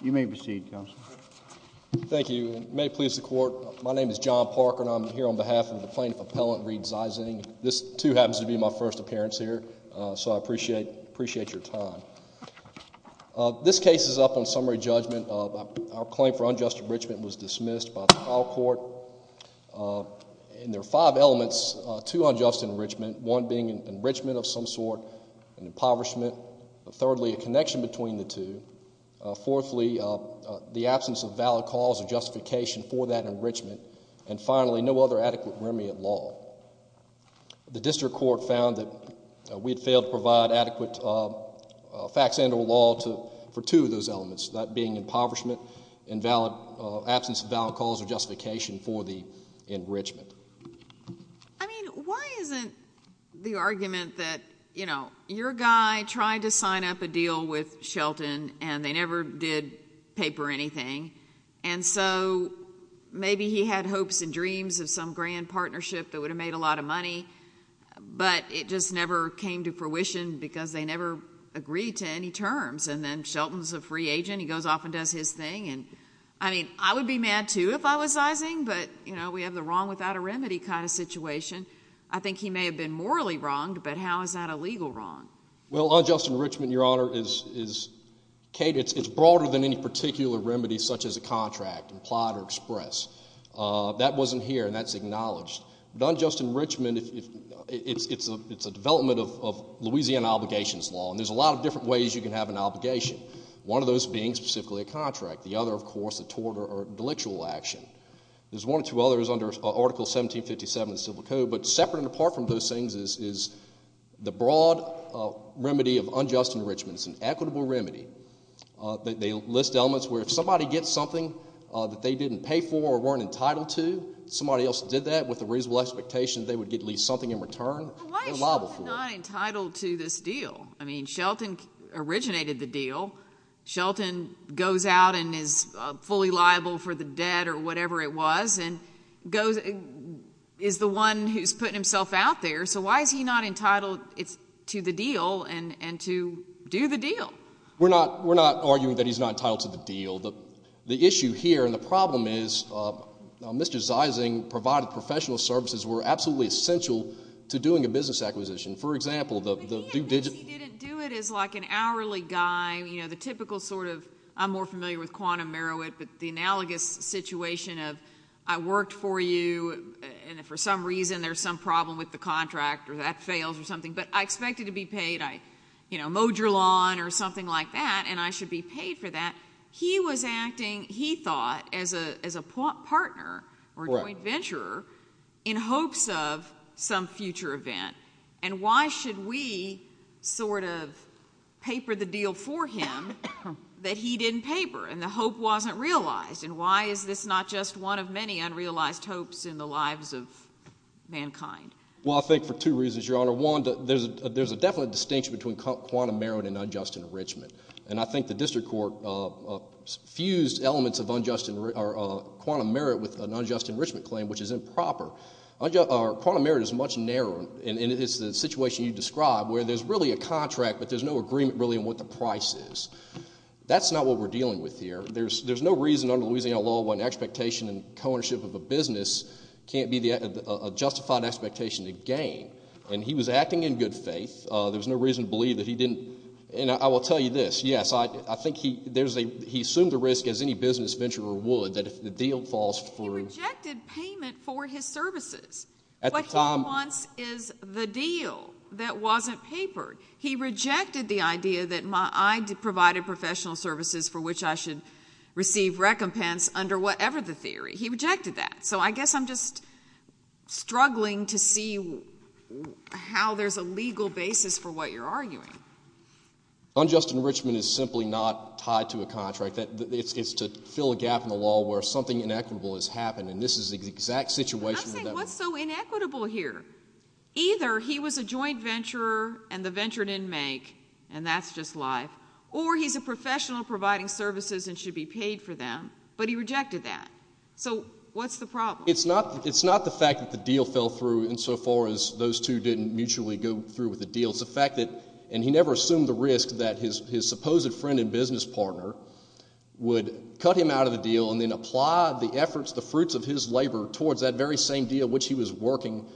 You may proceed, Counsel. Thank you. My name is John Parker, and I'm here on behalf of the Plaintiff Appellant Reid Zeising. This, too, happens to be my first appearance here, so I appreciate your time. This case is up on summary judgment. Our claim for unjust enrichment was dismissed by the trial court, and there are five elements to unjust enrichment, one being an enrichment of some sort, an impoverishment, thirdly a connection between the two, fourthly the absence of valid cause or justification for that enrichment, and finally no other adequate remedy of law. The district court found that we had failed to provide adequate facts and or law for two of those elements, that being impoverishment, absence of valid cause or justification for the enrichment. I mean, why isn't the argument that, you know, your guy tried to sign up a deal with Shelton and they never did pay for anything, and so maybe he had hopes and dreams of some grand partnership that would have made a lot of money, but it just never came to fruition because they never agreed to any terms, and then Shelton's a free agent, he goes off and does his thing, and, I mean, I would be mad, too, if I was Zeising, but, you know, we have the wrong without a remedy kind of situation. I think he may have been morally wronged, but how is that a legal wrong? Well, unjust enrichment, Your Honor, is, Kate, it's broader than any particular remedy such as a contract, implied or express. That wasn't here, and that's acknowledged, but unjust enrichment, it's a development of Louisiana obligations law, and there's a lot of different ways you can have an obligation, one of those being specifically a contract, the other, of course, a tort or a delictual action. There's one or two others under Article 1757 of the Civil Code, but separate and apart from those things is the broad remedy of unjust enrichment. It's an equitable remedy. They list elements where if somebody gets something that they didn't pay for or weren't entitled to, somebody else did that with a reasonable expectation they would get at least something in return, they're liable for it. But why is Shelton not entitled to this deal? I mean, Shelton originated the deal, Shelton goes out and is fully liable for the debt or whatever it was, and is the one who's putting himself out there, so why is he not entitled to the deal and to do the deal? We're not arguing that he's not entitled to the deal. The issue here, and the problem is, Mr. Zeising provided professional services were absolutely essential to doing a business acquisition. For example, the... But he didn't do it as like an hourly guy, you know, the typical sort of, I'm more familiar with quantum Merowit, but the analogous situation of, I worked for you, and for some reason there's some problem with the contract or that fails or something, but I expect it to be paid. I, you know, mowed your lawn or something like that, and I should be paid for that. He was acting, he thought, as a partner or joint venturer in hopes of some future event, and why should we sort of paper the deal for him that he didn't paper, and the hope wasn't realized, and why is this not just one of many unrealized hopes in the lives of mankind? Well, I think for two reasons, Your Honor. One, there's a definite distinction between quantum Merowit and unjust enrichment, and I think the district court fused elements of unjust, or quantum Merowit with an unjust enrichment claim, which is improper. Quantum Merowit is much narrower, and it's the situation you described where there's really a contract, but there's no agreement really on what the price is. That's not what we're dealing with here. There's no reason under Louisiana law when expectation and co-ownership of a business can't be a justified expectation to gain, and he was acting in good faith. There was no reason to believe that he didn't, and I will tell you this, yes, I think there's a, he assumed the risk, as any business venturer would, that if the deal falls through. He rejected payment for his services. At the time. What he wants is the deal that wasn't papered. He rejected the idea that I provided professional services for which I should receive recompense under whatever the theory. He rejected that. So I guess I'm just struggling to see how there's a legal basis for what you're arguing. Unjust enrichment is simply not tied to a contract. It's to fill a gap in the law where something inequitable has happened, and this is the exact situation. I'm saying what's so inequitable here? Either he was a joint venturer and the venture didn't make, and that's just life, or he's a professional providing services and should be paid for them, but he rejected that. So what's the problem? It's not the fact that the deal fell through insofar as those two didn't mutually go through with the deal. It's the fact that, and he never assumed the risk that his supposed friend and business partner would cut him out of the deal and then apply the efforts, the fruits of his labor towards that very same deal which he was working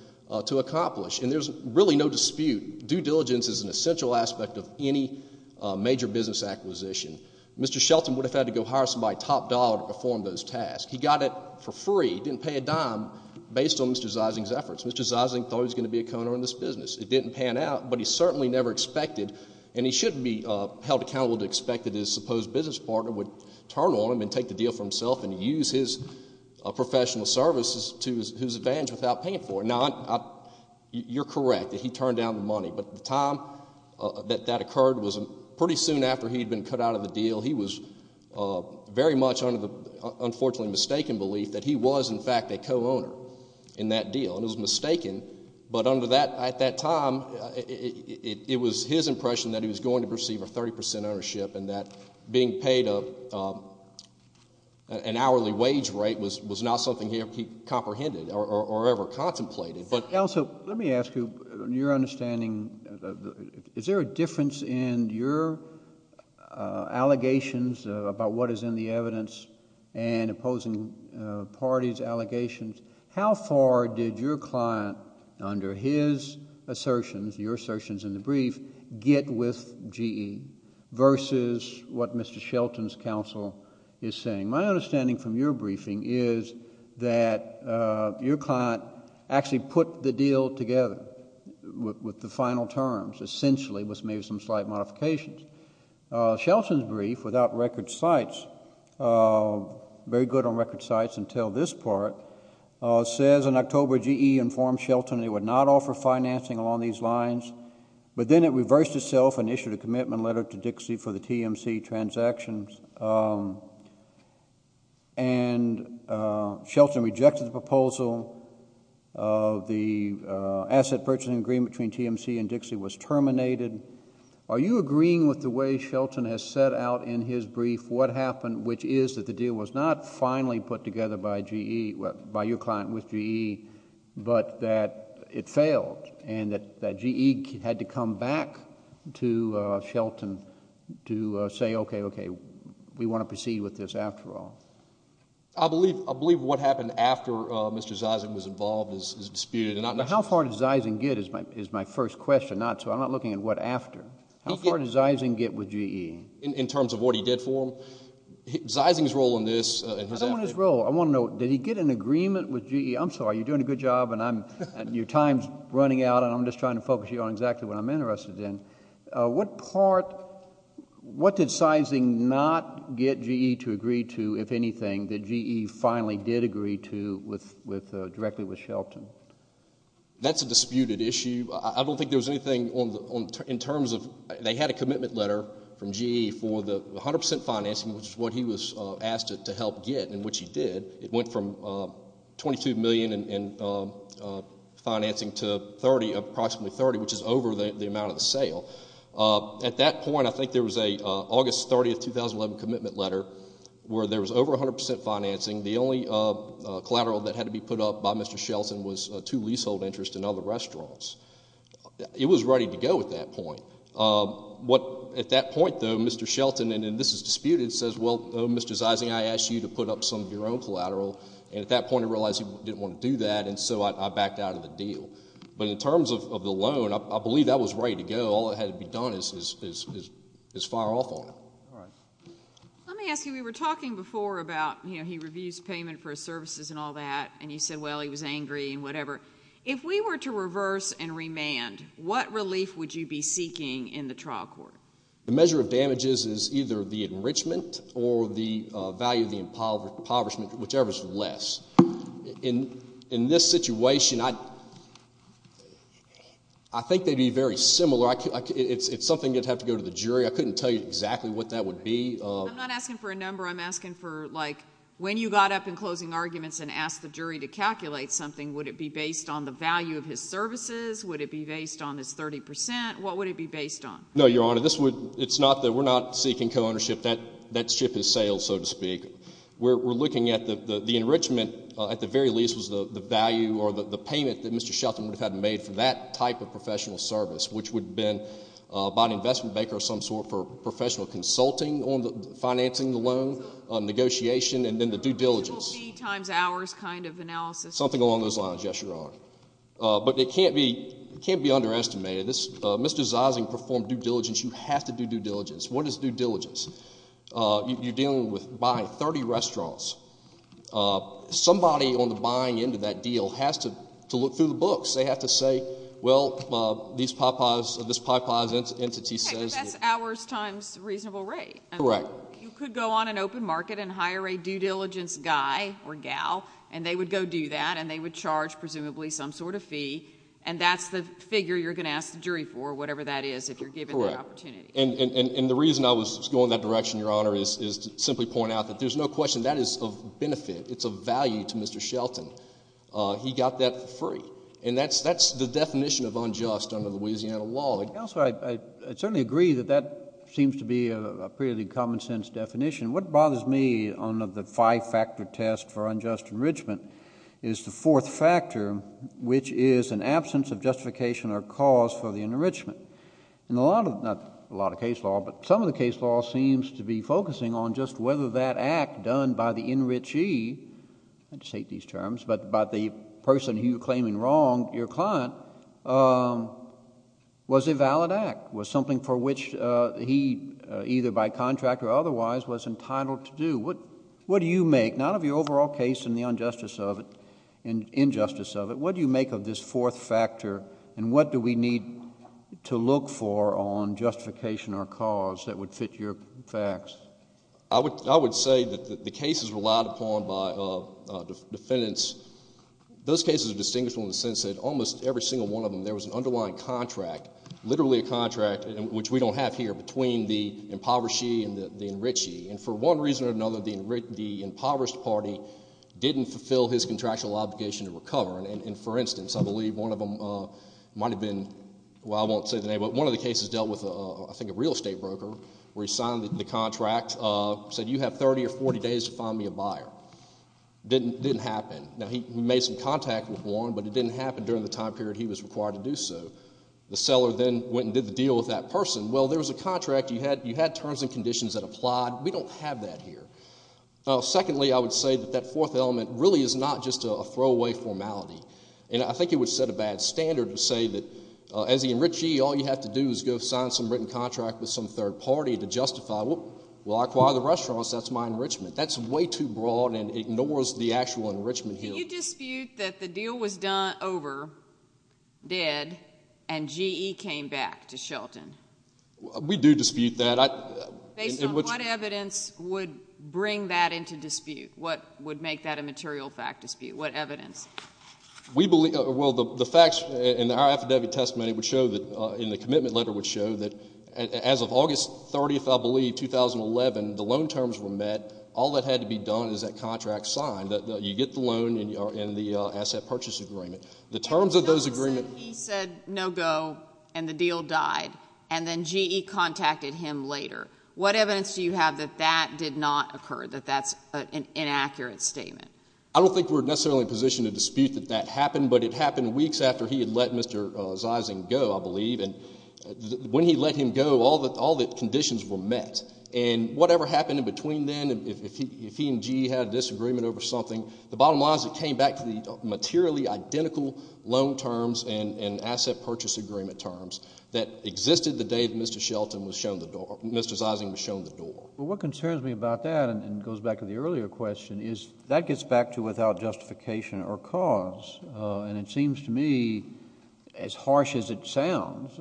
to accomplish, and there's really no dispute. Due diligence is an essential aspect of any major business acquisition. Mr. Shelton would have had to go hire somebody top dollar to perform those tasks. He got it for free. He didn't pay a dime based on Mr. Zeising's efforts. Mr. Zeising thought he was going to be a co-owner in this business. It didn't pan out, but he certainly never expected, and he shouldn't be held accountable to expect that his supposed business partner would turn on him and take the deal for himself and use his professional services to his advantage without paying for it. Now, you're correct that he turned down the money, but the time that that occurred was pretty soon after he'd been cut out of the deal. He was very much under the unfortunately mistaken belief that he was in fact a co-owner in that time, it was his impression that he was going to receive a 30 percent ownership and that being paid an hourly wage rate was not something he comprehended or ever contemplated. Also, let me ask you, in your understanding, is there a difference in your allegations about what is in the evidence and opposing parties' allegations? How far did your client, under his assertions, your assertions in the brief, get with GE versus what Mr. Shelton's counsel is saying? My understanding from your briefing is that your client actually put the deal together with the final terms, essentially, with maybe some slight modifications. Shelton's brief, without record sites, very good on record sites until this part, says in October, GE informed Shelton they would not offer financing along these lines, but then it reversed itself and issued a commitment letter to Dixie for the TMC transactions. Shelton rejected the proposal. The asset purchasing agreement between TMC and Dixie was terminated. Are you agreeing with the way Shelton has set out in his brief what happened, which is that the deal was not finally put together by GE, by your client with GE, but that it failed and that GE had to come back to Shelton to say, okay, okay, we want to proceed with this after all? I believe what happened after Mr. Zeising was involved is disputed. How far did Zeising get is my first question, so I'm not looking at what after. How far did Zeising get with GE? In terms of what he did for them? Zeising's role in this, in his actions? I don't want his role. I want to know, did he get an agreement with GE? I'm sorry, you're doing a good job and your time's running out and I'm just trying to focus you on exactly what I'm interested in. What part, what did Zeising not get GE to agree to, if anything, that GE finally did agree to directly with Shelton? That's a disputed issue. I don't think there was anything in terms of, they had a commitment letter from GE for the 100% financing, which is what he was asked to help get, and which he did. It went from $22 million in financing to approximately $30, which is over the amount of the sale. At that point, I think there was an August 30, 2011 commitment letter where there was over 100% financing. The only collateral that had to be put up by Mr. Shelton was two leasehold interests and other restaurants. It was ready to go at that point. At that point, though, Mr. Shelton, and this is disputed, says, well, Mr. Zeising, I asked you to put up some of your own collateral, and at that point I realized you didn't want to do that, and so I backed out of the deal. But in terms of the loan, I believe that was ready to go. All that had to be done is fire off on it. Let me ask you, we were talking before about, you know, he reviews payment for his services and all that, and you said, well, he was angry and whatever. If we were to reverse and remand, what relief would you be seeking in the trial court? The measure of damages is either the enrichment or the value of the impoverishment, whichever is less. In this situation, I think they'd be very similar. It's something you'd have to go to the jury. I couldn't tell you exactly what that would be. I'm not asking for a number. I'm asking for, like, when you got up in closing arguments and asked the jury to calculate something, would it be based on the value of his services? Would it be based on his 30 percent? What would it be based on? No, Your Honor. This would—it's not that we're not seeking co-ownership. That ship has sailed, so to speak. We're looking at the enrichment, at the very least, was the value or the payment that Mr. Shelton would have made for that type of professional service, which would have been by an investment banker of some sort for professional consulting on financing the loan, negotiation, and then the due diligence. It will be times hours kind of analysis. Something along those lines, yes, Your Honor. But it can't be underestimated. Mr. Zising performed due diligence. You have to do due diligence. What is due diligence? You're dealing with buying 30 restaurants. Somebody on the buying end of that deal has to look through the books. They have to say, well, this Popeye's entity says— Okay. The best hours times reasonable rate. Correct. You could go on an open market and hire a due diligence guy or gal, and they would go do that, and they would charge presumably some sort of fee, and that's the figure you're going to ask the jury for, whatever that is, if you're given that opportunity. Correct. And the reason I was going that direction, Your Honor, is to simply point out that there's no question that is of benefit. It's of value to Mr. Shelton. He got that for free. And that's the definition of unjust under the Louisiana law. Counselor, I certainly agree that that seems to be a pretty common-sense definition. What bothers me on the five-factor test for unjust enrichment is the fourth factor, which is an absence of justification or cause for the enrichment. And a lot of—not a lot of case law, but some of the case law seems to be focusing on just whether that act done by the enrichee—I just hate these terms—but by the person he was claiming wronged, your client, was a valid act, was something for which he, either by contract or otherwise, was entitled to do. What do you make, not of your overall case and the injustice of it, what do you make of this fourth factor, and what do we need to look for on justification or cause that would fit your facts? I would say that the cases relied upon by defendants, those cases are distinguishable in the sense that almost every single one of them, there was an underlying contract, literally a contract, which we don't have here, between the impoverished shee and the enrichee. And for one reason or another, the impoverished party didn't fulfill his contractual obligation to recover. And for instance, I believe one of them might have been—well, I won't say the name, but one of the cases dealt with, I think, a real estate broker, where he signed the contract, said you have 30 or 40 days to find me a buyer. It didn't happen. Now, he made some contact with Warren, but it didn't happen during the time period he was required to do so. The seller then went and did the deal with that person. Well, there was a contract. You had terms and conditions that applied. We don't have that here. Secondly, I would say that that fourth element really is not just a throwaway formality. And I think it would set a bad standard to say that as the enrichee, all you have to do is go sign some written contract with some third party to justify, well, I acquire the restaurants. That's my enrichment. That's way too broad and ignores the actual enrichment here. Can you dispute that the deal was done over, dead, and GE came back to Shelton? We do dispute that. Based on what evidence would bring that into dispute? What would make that a material fact dispute? What evidence? Well, the facts in our affidavit testimony would show that, in the commitment letter would show that as of August 30th, I believe, 2011, the loan terms were met. All that had to be done is that contract signed. You get the loan and the asset purchase agreement. The terms of those agreements- He said no go, and the deal died, and then GE contacted him later. What evidence do you have that that did not occur, that that's an inaccurate statement? I don't think we're necessarily in a position to dispute that that happened, but it happened weeks after he had let Mr. Zeising go, I believe. When he let him go, all the conditions were met. Whatever happened in between then, if he and GE had a disagreement over something, the bottom line is it came back to the materially identical loan terms and asset purchase agreement terms that existed the day Mr. Zeising was shown the door. What concerns me about that, and it goes back to the earlier question, is that gets back to without justification or cause. It seems to me, as harsh as it sounds,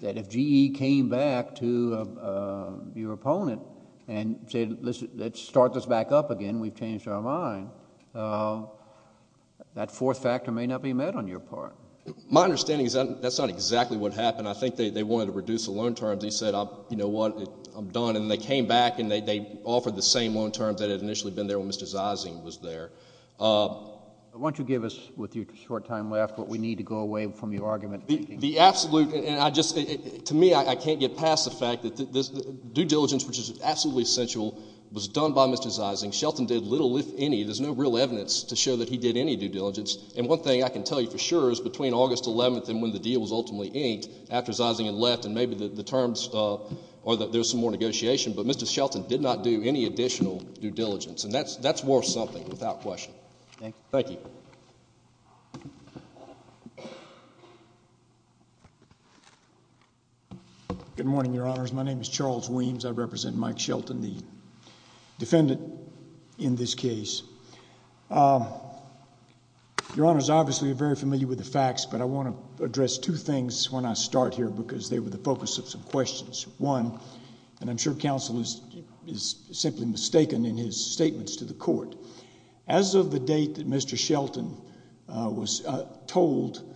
that if GE came back to your opponent and said, let's start this back up again, we've changed our mind, that fourth factor may not be met on your part. My understanding is that that's not exactly what happened. I think they wanted to reduce the loan terms. They said, you know what, I'm done. They came back and they offered the same loan terms that had initially been there when Mr. Zeising was there. Why don't you give us, with your short time left, what we need to go away from your argument? The absolute, and I just, to me, I can't get past the fact that due diligence, which is absolutely essential, was done by Mr. Zeising. Shelton did little, if any, there's no real evidence to show that he did any due diligence. One thing I can tell you for sure is between August 11th and when the deal was ultimately kinked, after Zeising had left, and maybe the terms, or that there was some more negotiation, but Mr. Shelton did not do any additional due diligence, and that's worth something without question. Thank you. Good morning, Your Honors. My name is Charles Weems, I represent Mike Shelton, the defendant in this case. Your Honors, obviously you're very familiar with the facts, but I want to address two things when I start here, because they were the focus of some questions. One, and I'm sure counsel is simply mistaken in his statements to the court. As of the date that Mr. Shelton was told,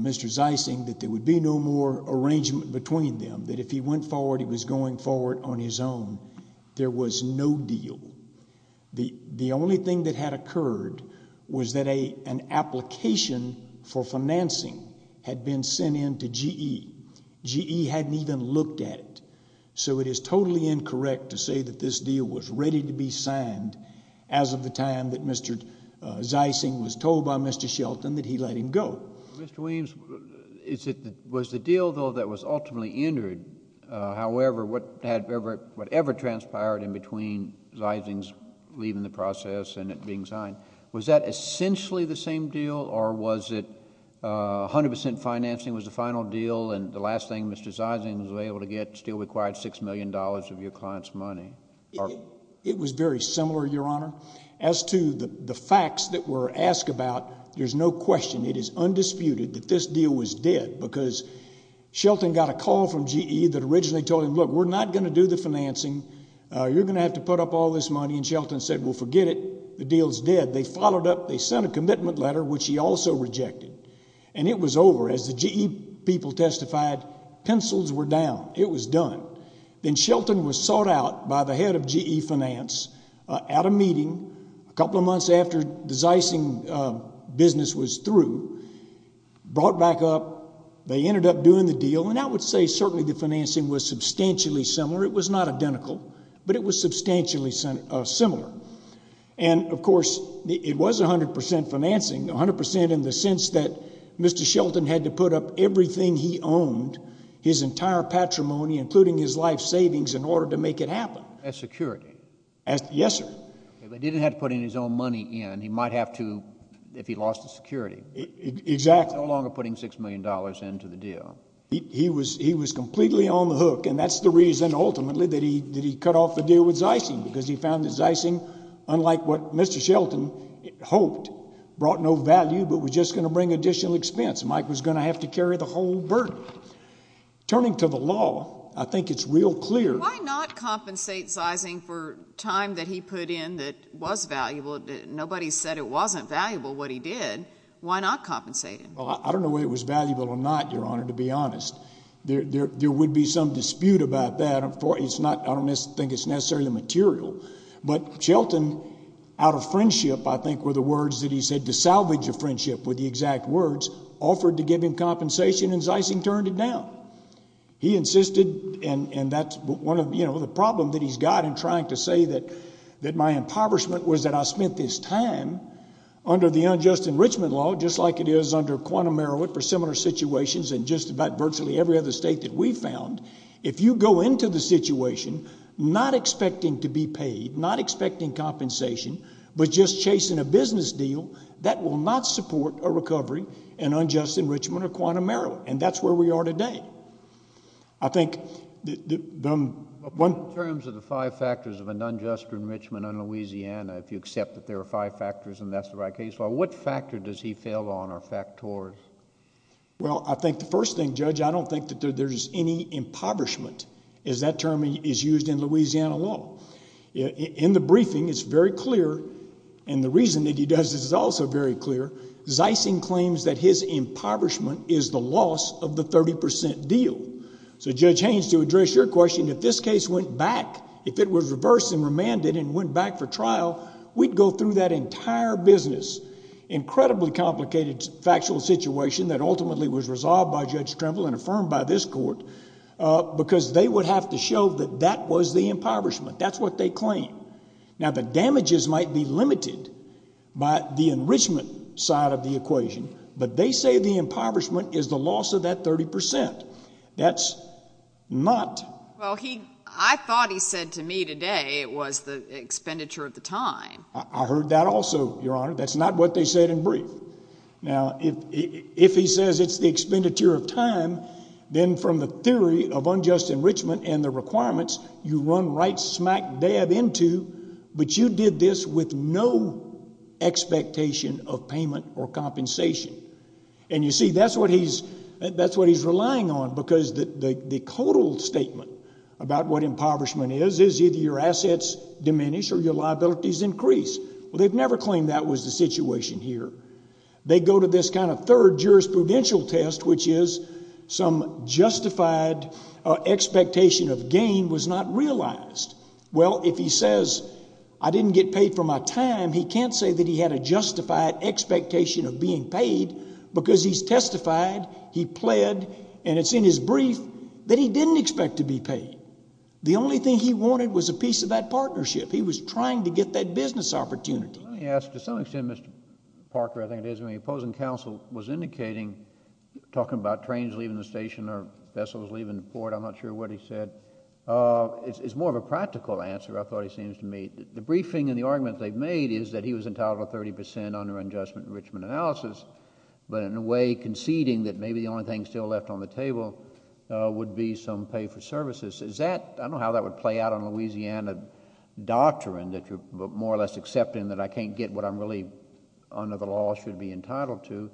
Mr. Zeising, that there would be no more arrangement between them, that if he went forward, he was going forward on his own, there was no deal. The only thing that had occurred was that an application for financing had been sent in to GE, GE hadn't even looked at it, so it is totally incorrect to say that this deal was ready to be signed as of the time that Mr. Zeising was told by Mr. Shelton that he let him go. Mr. Weems, was the deal, though, that was ultimately entered, however, whatever transpired in between Zeising's leaving the process and it being signed, was that essentially the same deal, or was it 100 percent financing was the final deal, and the last thing Mr. Zeising was able to get still required $6 million of your client's money? It was very similar, Your Honor. As to the facts that were asked about, there's no question, it is undisputed that this deal was dead, because Shelton got a call from GE that originally told him, look, we're not going to do the financing, you're going to have to put up all this money, and Shelton said, well, forget it, the deal's dead. They followed up, they sent a commitment letter, which he also rejected, and it was over. As the GE people testified, pencils were down, it was done. Then Shelton was sought out by the head of GE Finance at a meeting a couple of months after the Zeising business was through, brought back up, they ended up doing the deal, and I would say certainly the financing was substantially similar, it was not identical, but it was substantially similar. And of course, it was 100 percent financing, 100 percent in the sense that Mr. Shelton had to put up everything he owned, his entire patrimony, including his life savings in order to make it happen. As security? Yes, sir. If he didn't have to put in his own money in, he might have to, if he lost his security. Exactly. No longer putting $6 million into the deal. He was completely on the hook, and that's the reason, ultimately, that he cut off the deal with Zeising, because he found that Zeising, unlike what Mr. Shelton hoped, brought no value but was just going to bring additional expense, and Mike was going to have to carry the whole burden. Turning to the law, I think it's real clear- Why not compensate Zeising for time that he put in that was valuable? Nobody said it wasn't valuable, what he did. Why not compensate him? I don't know whether it was valuable or not, Your Honor, to be honest. There would be some dispute about that. I don't think it's necessarily material, but Shelton, out of friendship, I think were the words that he said, to salvage a friendship, were the exact words, offered to give him compensation and Zeising turned it down. He insisted, and that's the problem that he's got in trying to say that my impoverishment was that I spent this time under the unjust enrichment law, just like it is under quantum merit for similar situations in just about virtually every other state that we found. If you go into the situation not expecting to be paid, not expecting compensation, but just chasing a business deal, that will not support a recovery in unjust enrichment or quantum merit, and that's where we are today. I think... In terms of the five factors of an unjust enrichment in Louisiana, if you accept that there are five factors and that's the right case law, what factor does he fail on or fact towards? Well, I think the first thing, Judge, I don't think that there's any impoverishment, as that term is used in Louisiana law. In the briefing, it's very clear, and the reason that he does this is also very clear, Zeising claims that his impoverishment is the loss of the 30% deal. So Judge Haynes, to address your question, if this case went back, if it was reversed and remanded and went back for trial, we'd go through that entire business, incredibly complicated factual situation that ultimately was resolved by Judge Trimble and affirmed by this court, because they would have to show that that was the impoverishment. That's what they claim. Now the damages might be limited by the enrichment side of the equation, but they say the impoverishment is the loss of that 30%. That's not... Well, I thought he said to me today it was the expenditure of the time. I heard that also, Your Honor. That's not what they said in brief. Now if he says it's the expenditure of time, then from the theory of unjust enrichment and the requirements, you run right smack dab into, but you did this with no expectation of payment or compensation. And you see, that's what he's relying on, because the total statement about what impoverishment is is either your assets diminish or your liabilities increase. Well, they've never claimed that was the situation here. They go to this kind of third jurisprudential test, which is some justified expectation of gain was not realized. Well, if he says, I didn't get paid for my time, he can't say that he had a justified expectation of being paid, because he's testified, he pled, and it's in his brief that he didn't expect to be paid. The only thing he wanted was a piece of that partnership. He was trying to get that business opportunity. Let me ask, to some extent, Mr. Parker, I think it is, when the opposing counsel was indicating, talking about trains leaving the station or vessels leaving the port, I'm not sure what he said, it's more of a practical answer I thought he seems to make. The briefing and the argument they've made is that he was entitled to 30 percent under unjust enrichment analysis, but in a way conceding that maybe the only thing still left on the table would be some pay for services. Is that, I don't know how that would play out on Louisiana doctrine, that you're more or less accepting that I can't get what I'm really, under the law, should be entitled to.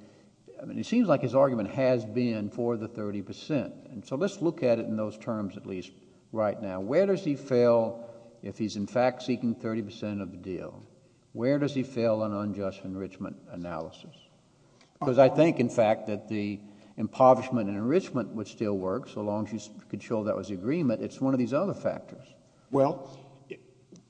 I mean, it seems like his argument has been for the 30 percent, and so let's look at it in those terms at least right now. Where does he fail if he's in fact seeking 30 percent of the deal? Where does he fail on unjust enrichment analysis? Because I think, in fact, that the impoverishment and enrichment would still work, so long as you could show that was agreement, it's one of these other factors. Well,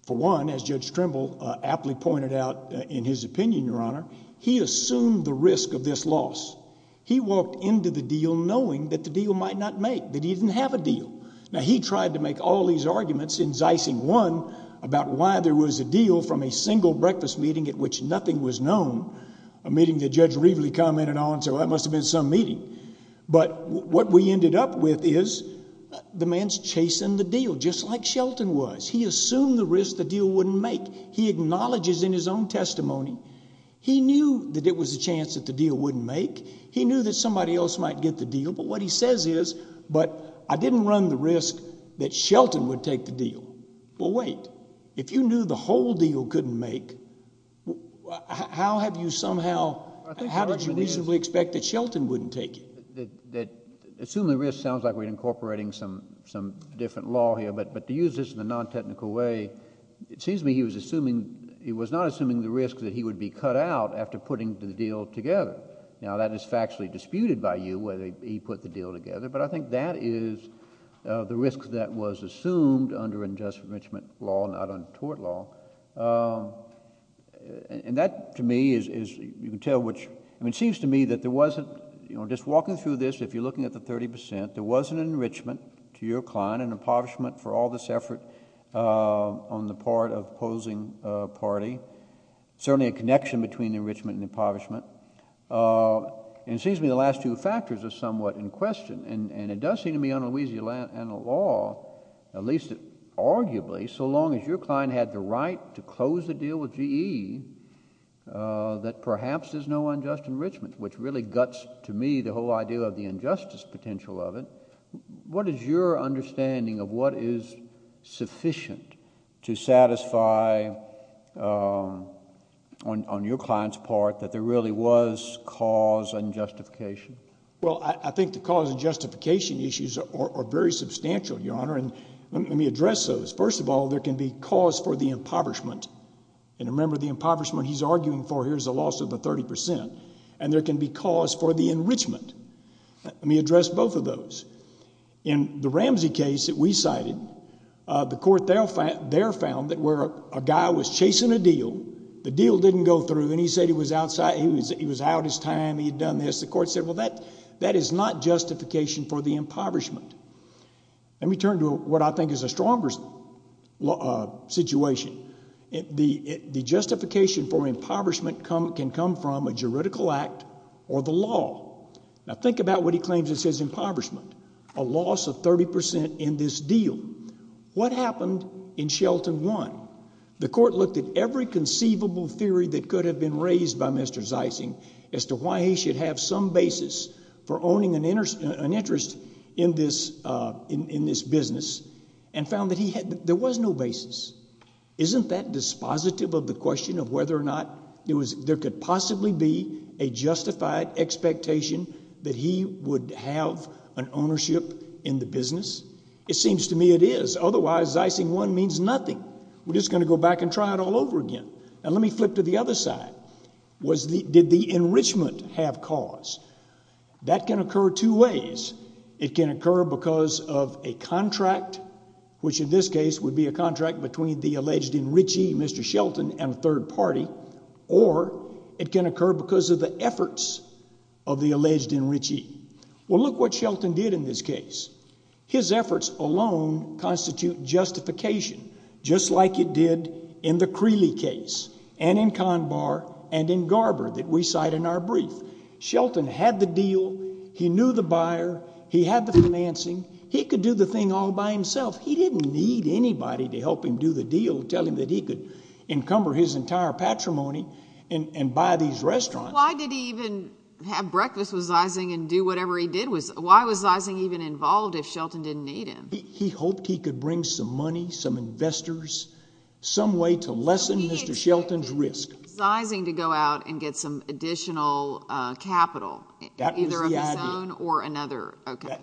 for one, as Judge Trimble aptly pointed out in his opinion, Your Honor, he assumed the risk of this loss. He walked into the deal knowing that the deal might not make, that he didn't have a deal. Now, he tried to make all these arguments, in Zeising one, about why there was a deal from a single breakfast meeting at which nothing was known, a meeting that Judge Reveley commented on, so that must have been some meeting, but what we ended up with is the man's chasing the deal, just like Shelton was. He assumed the risk the deal wouldn't make. He acknowledges in his own testimony, he knew that it was a chance that the deal wouldn't make. He knew that somebody else might get the deal, but what he says is, but I didn't run the risk that Shelton would take the deal. Well, wait. If you knew the whole deal couldn't make, how have you somehow, how did you reasonably expect that Shelton wouldn't take it? Assuming risk sounds like we're incorporating some different law here, but to use this in a non-technical way, it seems to me he was not assuming the risk that he would be cut out after putting the deal together. Now, that is factually disputed by you, whether he put the deal together, but I think that is the risk that was assumed under unjust enrichment law, not under tort law, and that to me is, you can tell which, I mean, it seems to me that there wasn't, you know, just walking through this, if you're looking at the 30%, there wasn't an enrichment to your client, an impoverishment for all this effort on the part of opposing party, certainly a connection between enrichment and impoverishment, and it seems to me the last two factors are somewhat in question, and it does seem to me under Louisiana law, at least arguably, so long as your client had the right to close the deal with GE, that perhaps there's no unjust enrichment, which really guts to me the whole idea of the injustice potential of it. What is your understanding of what is sufficient to satisfy, on your client's part, that there really was cause and justification? Well, I think the cause and justification issues are very substantial, Your Honor, and let me address those. First of all, there can be cause for the impoverishment, and remember the impoverishment he's arguing for here is a loss of the 30%, and there can be cause for the enrichment. Let me address both of those. In the Ramsey case that we cited, the court there found that where a guy was chasing a deal, the deal didn't go through, and he said he was out of his time, he had done this, the court said, well, that is not justification for the impoverishment. Let me turn to what I think is a stronger situation. The justification for impoverishment can come from a juridical act or the law. Now, think about what he claims is his impoverishment, a loss of 30% in this deal. What happened in Shelton 1? The court looked at every conceivable theory that could have been raised by Mr. Zeising as to why he should have some basis for owning an interest in this business and found that there was no basis. Isn't that dispositive of the question of whether or not there could possibly be a justified expectation that he would have an ownership in the business? It seems to me it is, otherwise, Zeising 1 means nothing. We're just going to go back and try it all over again, and let me flip to the other side. Did the enrichment have cause? That can occur two ways. It can occur because of a contract, which in this case would be a contract between the alleged enrichee, Mr. Shelton, and a third party, or it can occur because of the efforts of the alleged enrichee. Well, look what Shelton did in this case. His efforts alone constitute justification, just like it did in the Creeley case and in Garber that we cite in our brief. Shelton had the deal. He knew the buyer. He had the financing. He could do the thing all by himself. He didn't need anybody to help him do the deal, tell him that he could encumber his entire patrimony and buy these restaurants. Why did he even have breakfast with Zeising and do whatever he did? Why was Zeising even involved if Shelton didn't need him? He hoped he could bring some money, some investors, some way to lessen Mr. Shelton's risk. Zeising to go out and get some additional capital, either of his own or another?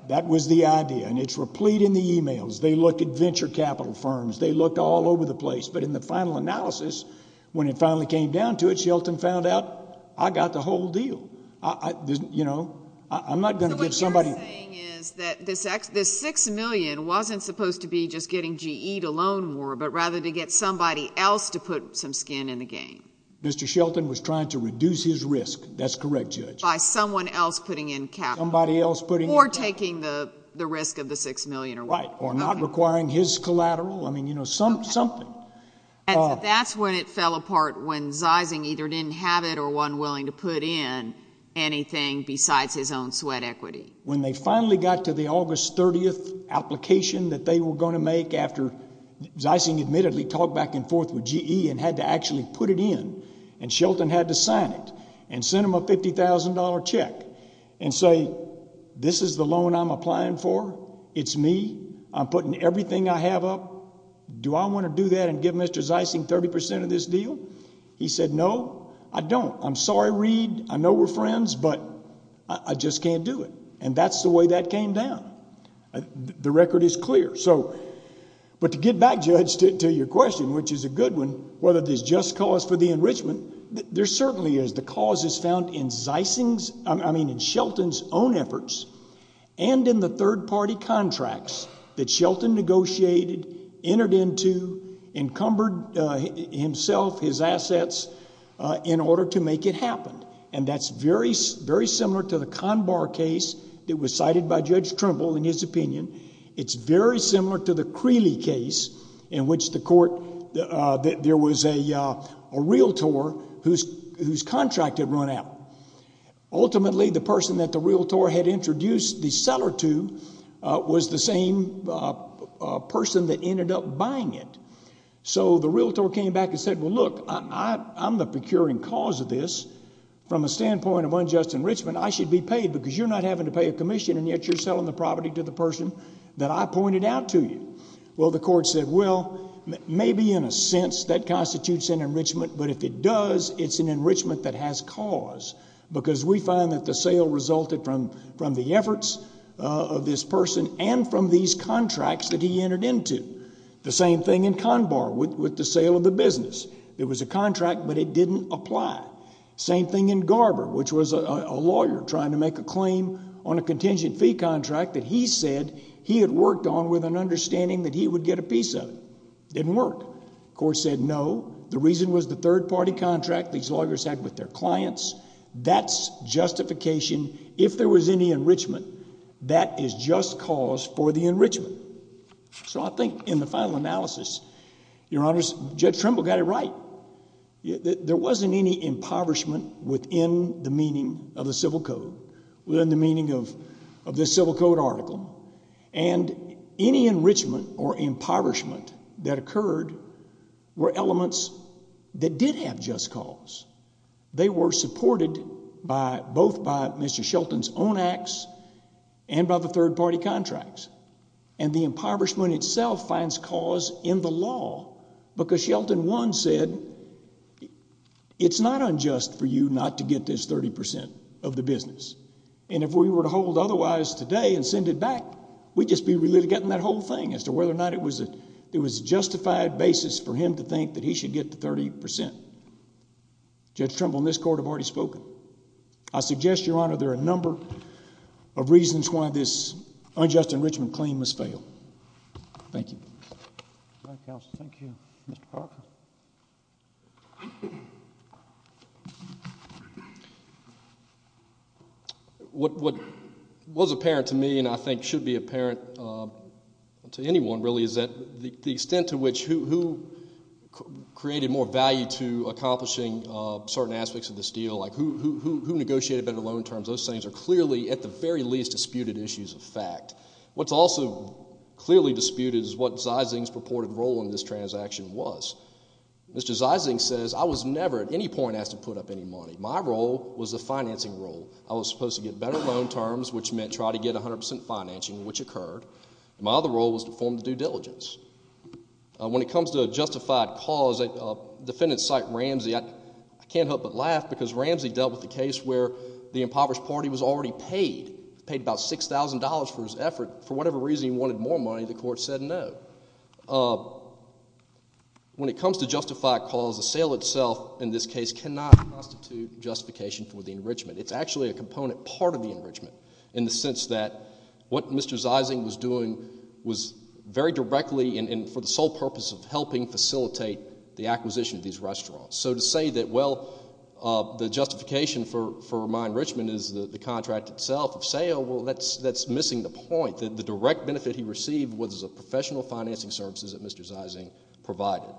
That was the idea. And it's replete in the emails. They looked at venture capital firms. They looked all over the place. But in the final analysis, when it finally came down to it, Shelton found out, I got the whole deal. You know, I'm not going to give somebody... So what you're saying is that this $6 million wasn't supposed to be just getting GE to loan more, but rather to get somebody else to put some skin in the game. Mr. Shelton was trying to reduce his risk. That's correct, Judge. By someone else putting in capital. Somebody else putting in capital. Or taking the risk of the $6 million or whatever. Right. Or not requiring his collateral. I mean, you know, something. That's when it fell apart when Zeising either didn't have it or wasn't willing to put in anything besides his own sweat equity. When they finally got to the August 30th application that they were going to make after Zeising admittedly talked back and forth with GE and had to actually put it in, and Shelton had to sign it and send them a $50,000 check and say, this is the loan I'm applying for. It's me. I'm putting everything I have up. Do I want to do that and give Mr. Zeising 30% of this deal? He said, no, I don't. I'm sorry, Reed. I know we're friends, but I just can't do it. And that's the way that came down. The record is clear. But to get back, Judge, to your question, which is a good one, whether there's just cause for the enrichment, there certainly is. The cause is found in Zeising's, I mean, in Shelton's own efforts and in the third-party contracts that Shelton negotiated, entered into, encumbered himself, his assets in order to make it happen. And that's very similar to the Conbar case that was cited by Judge Trimble in his opinion. It's very similar to the Creeley case in which there was a realtor whose contract had run out. Ultimately, the person that the realtor had introduced the seller to was the same person that ended up buying it. So the realtor came back and said, well, look, I'm the procuring cause of this. From a standpoint of unjust enrichment, I should be paid because you're not having to pay a commission, and yet you're selling the property to the person that I pointed out to you. Well, the court said, well, maybe in a sense that constitutes an enrichment, but if it does, it's an enrichment that has cause, because we find that the sale resulted from the efforts of this person and from these contracts that he entered into. The same thing in Conbar with the sale of the business. It was a contract, but it didn't apply. Same thing in Garber, which was a lawyer trying to make a claim on a contingent fee contract that he said he had worked on with an understanding that he would get a piece of it. Didn't work. The court said no. The reason was the third-party contract these lawyers had with their clients. That's justification. If there was any enrichment, that is just cause for the enrichment. So I think in the final analysis, Your Honors, Judge Trimble got it right. There wasn't any impoverishment within the meaning of the Civil Code, within the meaning of this Civil Code article, and any enrichment or impoverishment that occurred were elements that did have just cause. They were supported both by Mr. Shelton's own acts and by the third-party contracts. And the impoverishment itself finds cause in the law, because Shelton, one, said it's not unjust for you not to get this 30% of the business, and if we were to hold otherwise today and send it back, we'd just be really getting that whole thing as to whether or Judge Trimble and this court have already spoken. I suggest, Your Honor, there are a number of reasons why this unjust enrichment claim must fail. Thank you. All right, counsel. Thank you. Mr. Parker? What was apparent to me and I think should be apparent to anyone really is that the extent to which who created more value to accomplishing certain aspects of this deal, like who negotiated better loan terms, those things are clearly, at the very least, disputed issues of fact. What's also clearly disputed is what Zysing's purported role in this transaction was. Mr. Zysing says, I was never at any point asked to put up any money. My role was the financing role. I was supposed to get better loan terms, which meant try to get 100% financing, which occurred. My other role was to perform the due diligence. When it comes to a justified cause, Defendant Cyte Ramsey, I can't help but laugh because Ramsey dealt with a case where the impoverished party was already paid, paid about $6,000 for his effort. For whatever reason he wanted more money, the court said no. When it comes to justified cause, the sale itself in this case cannot constitute justification for the enrichment. It's actually a component, part of the enrichment, in the sense that what Mr. Zysing was doing was very directly and for the sole purpose of helping facilitate the acquisition of these restaurants. So to say that, well, the justification for my enrichment is the contract itself, the sale, well, that's missing the point. The direct benefit he received was the professional financing services that Mr. Zysing provided.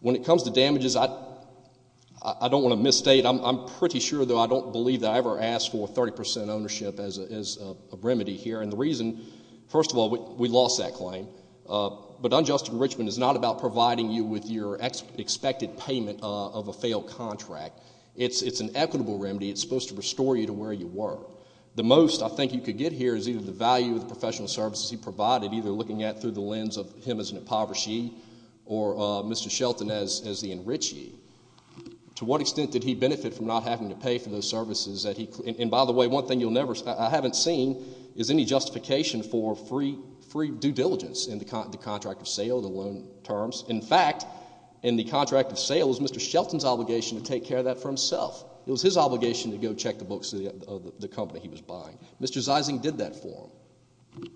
When it comes to damages, I don't want to misstate, I'm pretty sure, though I don't believe that I ever asked for 30% ownership as a remedy here. And the reason, first of all, we lost that claim. But unjust enrichment is not about providing you with your expected payment of a failed contract. It's an equitable remedy. It's supposed to restore you to where you were. The most I think you could get here is either the value of the professional services he provided, either looking at it through the lens of him as an impoverished ye, or Mr. Shelton as the enriched ye. To what extent did he benefit from not having to pay for those services that he, and by the way, one thing you'll never, I haven't seen, is any justification for free due diligence in the contract of sale, the loan terms. In fact, in the contract of sale, it was Mr. Shelton's obligation to take care of that for himself. It was his obligation to go check the books of the company he was buying. Mr. Zysing did that for him.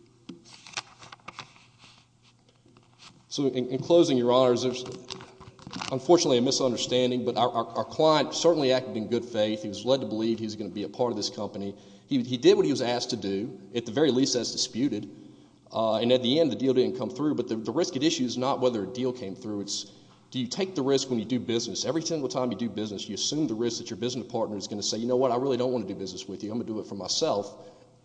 So, in closing, your honors, there's unfortunately a misunderstanding, but our client certainly acted in good faith. He was led to believe he was going to be a part of this company. He did what he was asked to do, at the very least as disputed, and at the end, the deal didn't come through. But the risk at issue is not whether a deal came through, it's do you take the risk when you do business. Every single time you do business, you assume the risk that your business partner is going to say, you know what, I really don't want to do business with you, I'm going to do it for myself.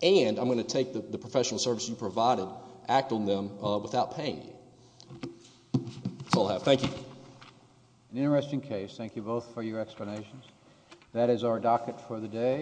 And I'm going to take the professional service you provided, act on them without paying you. That's all I have. Thank you. An interesting case. Thank you both for your explanations. That is our docket for the day.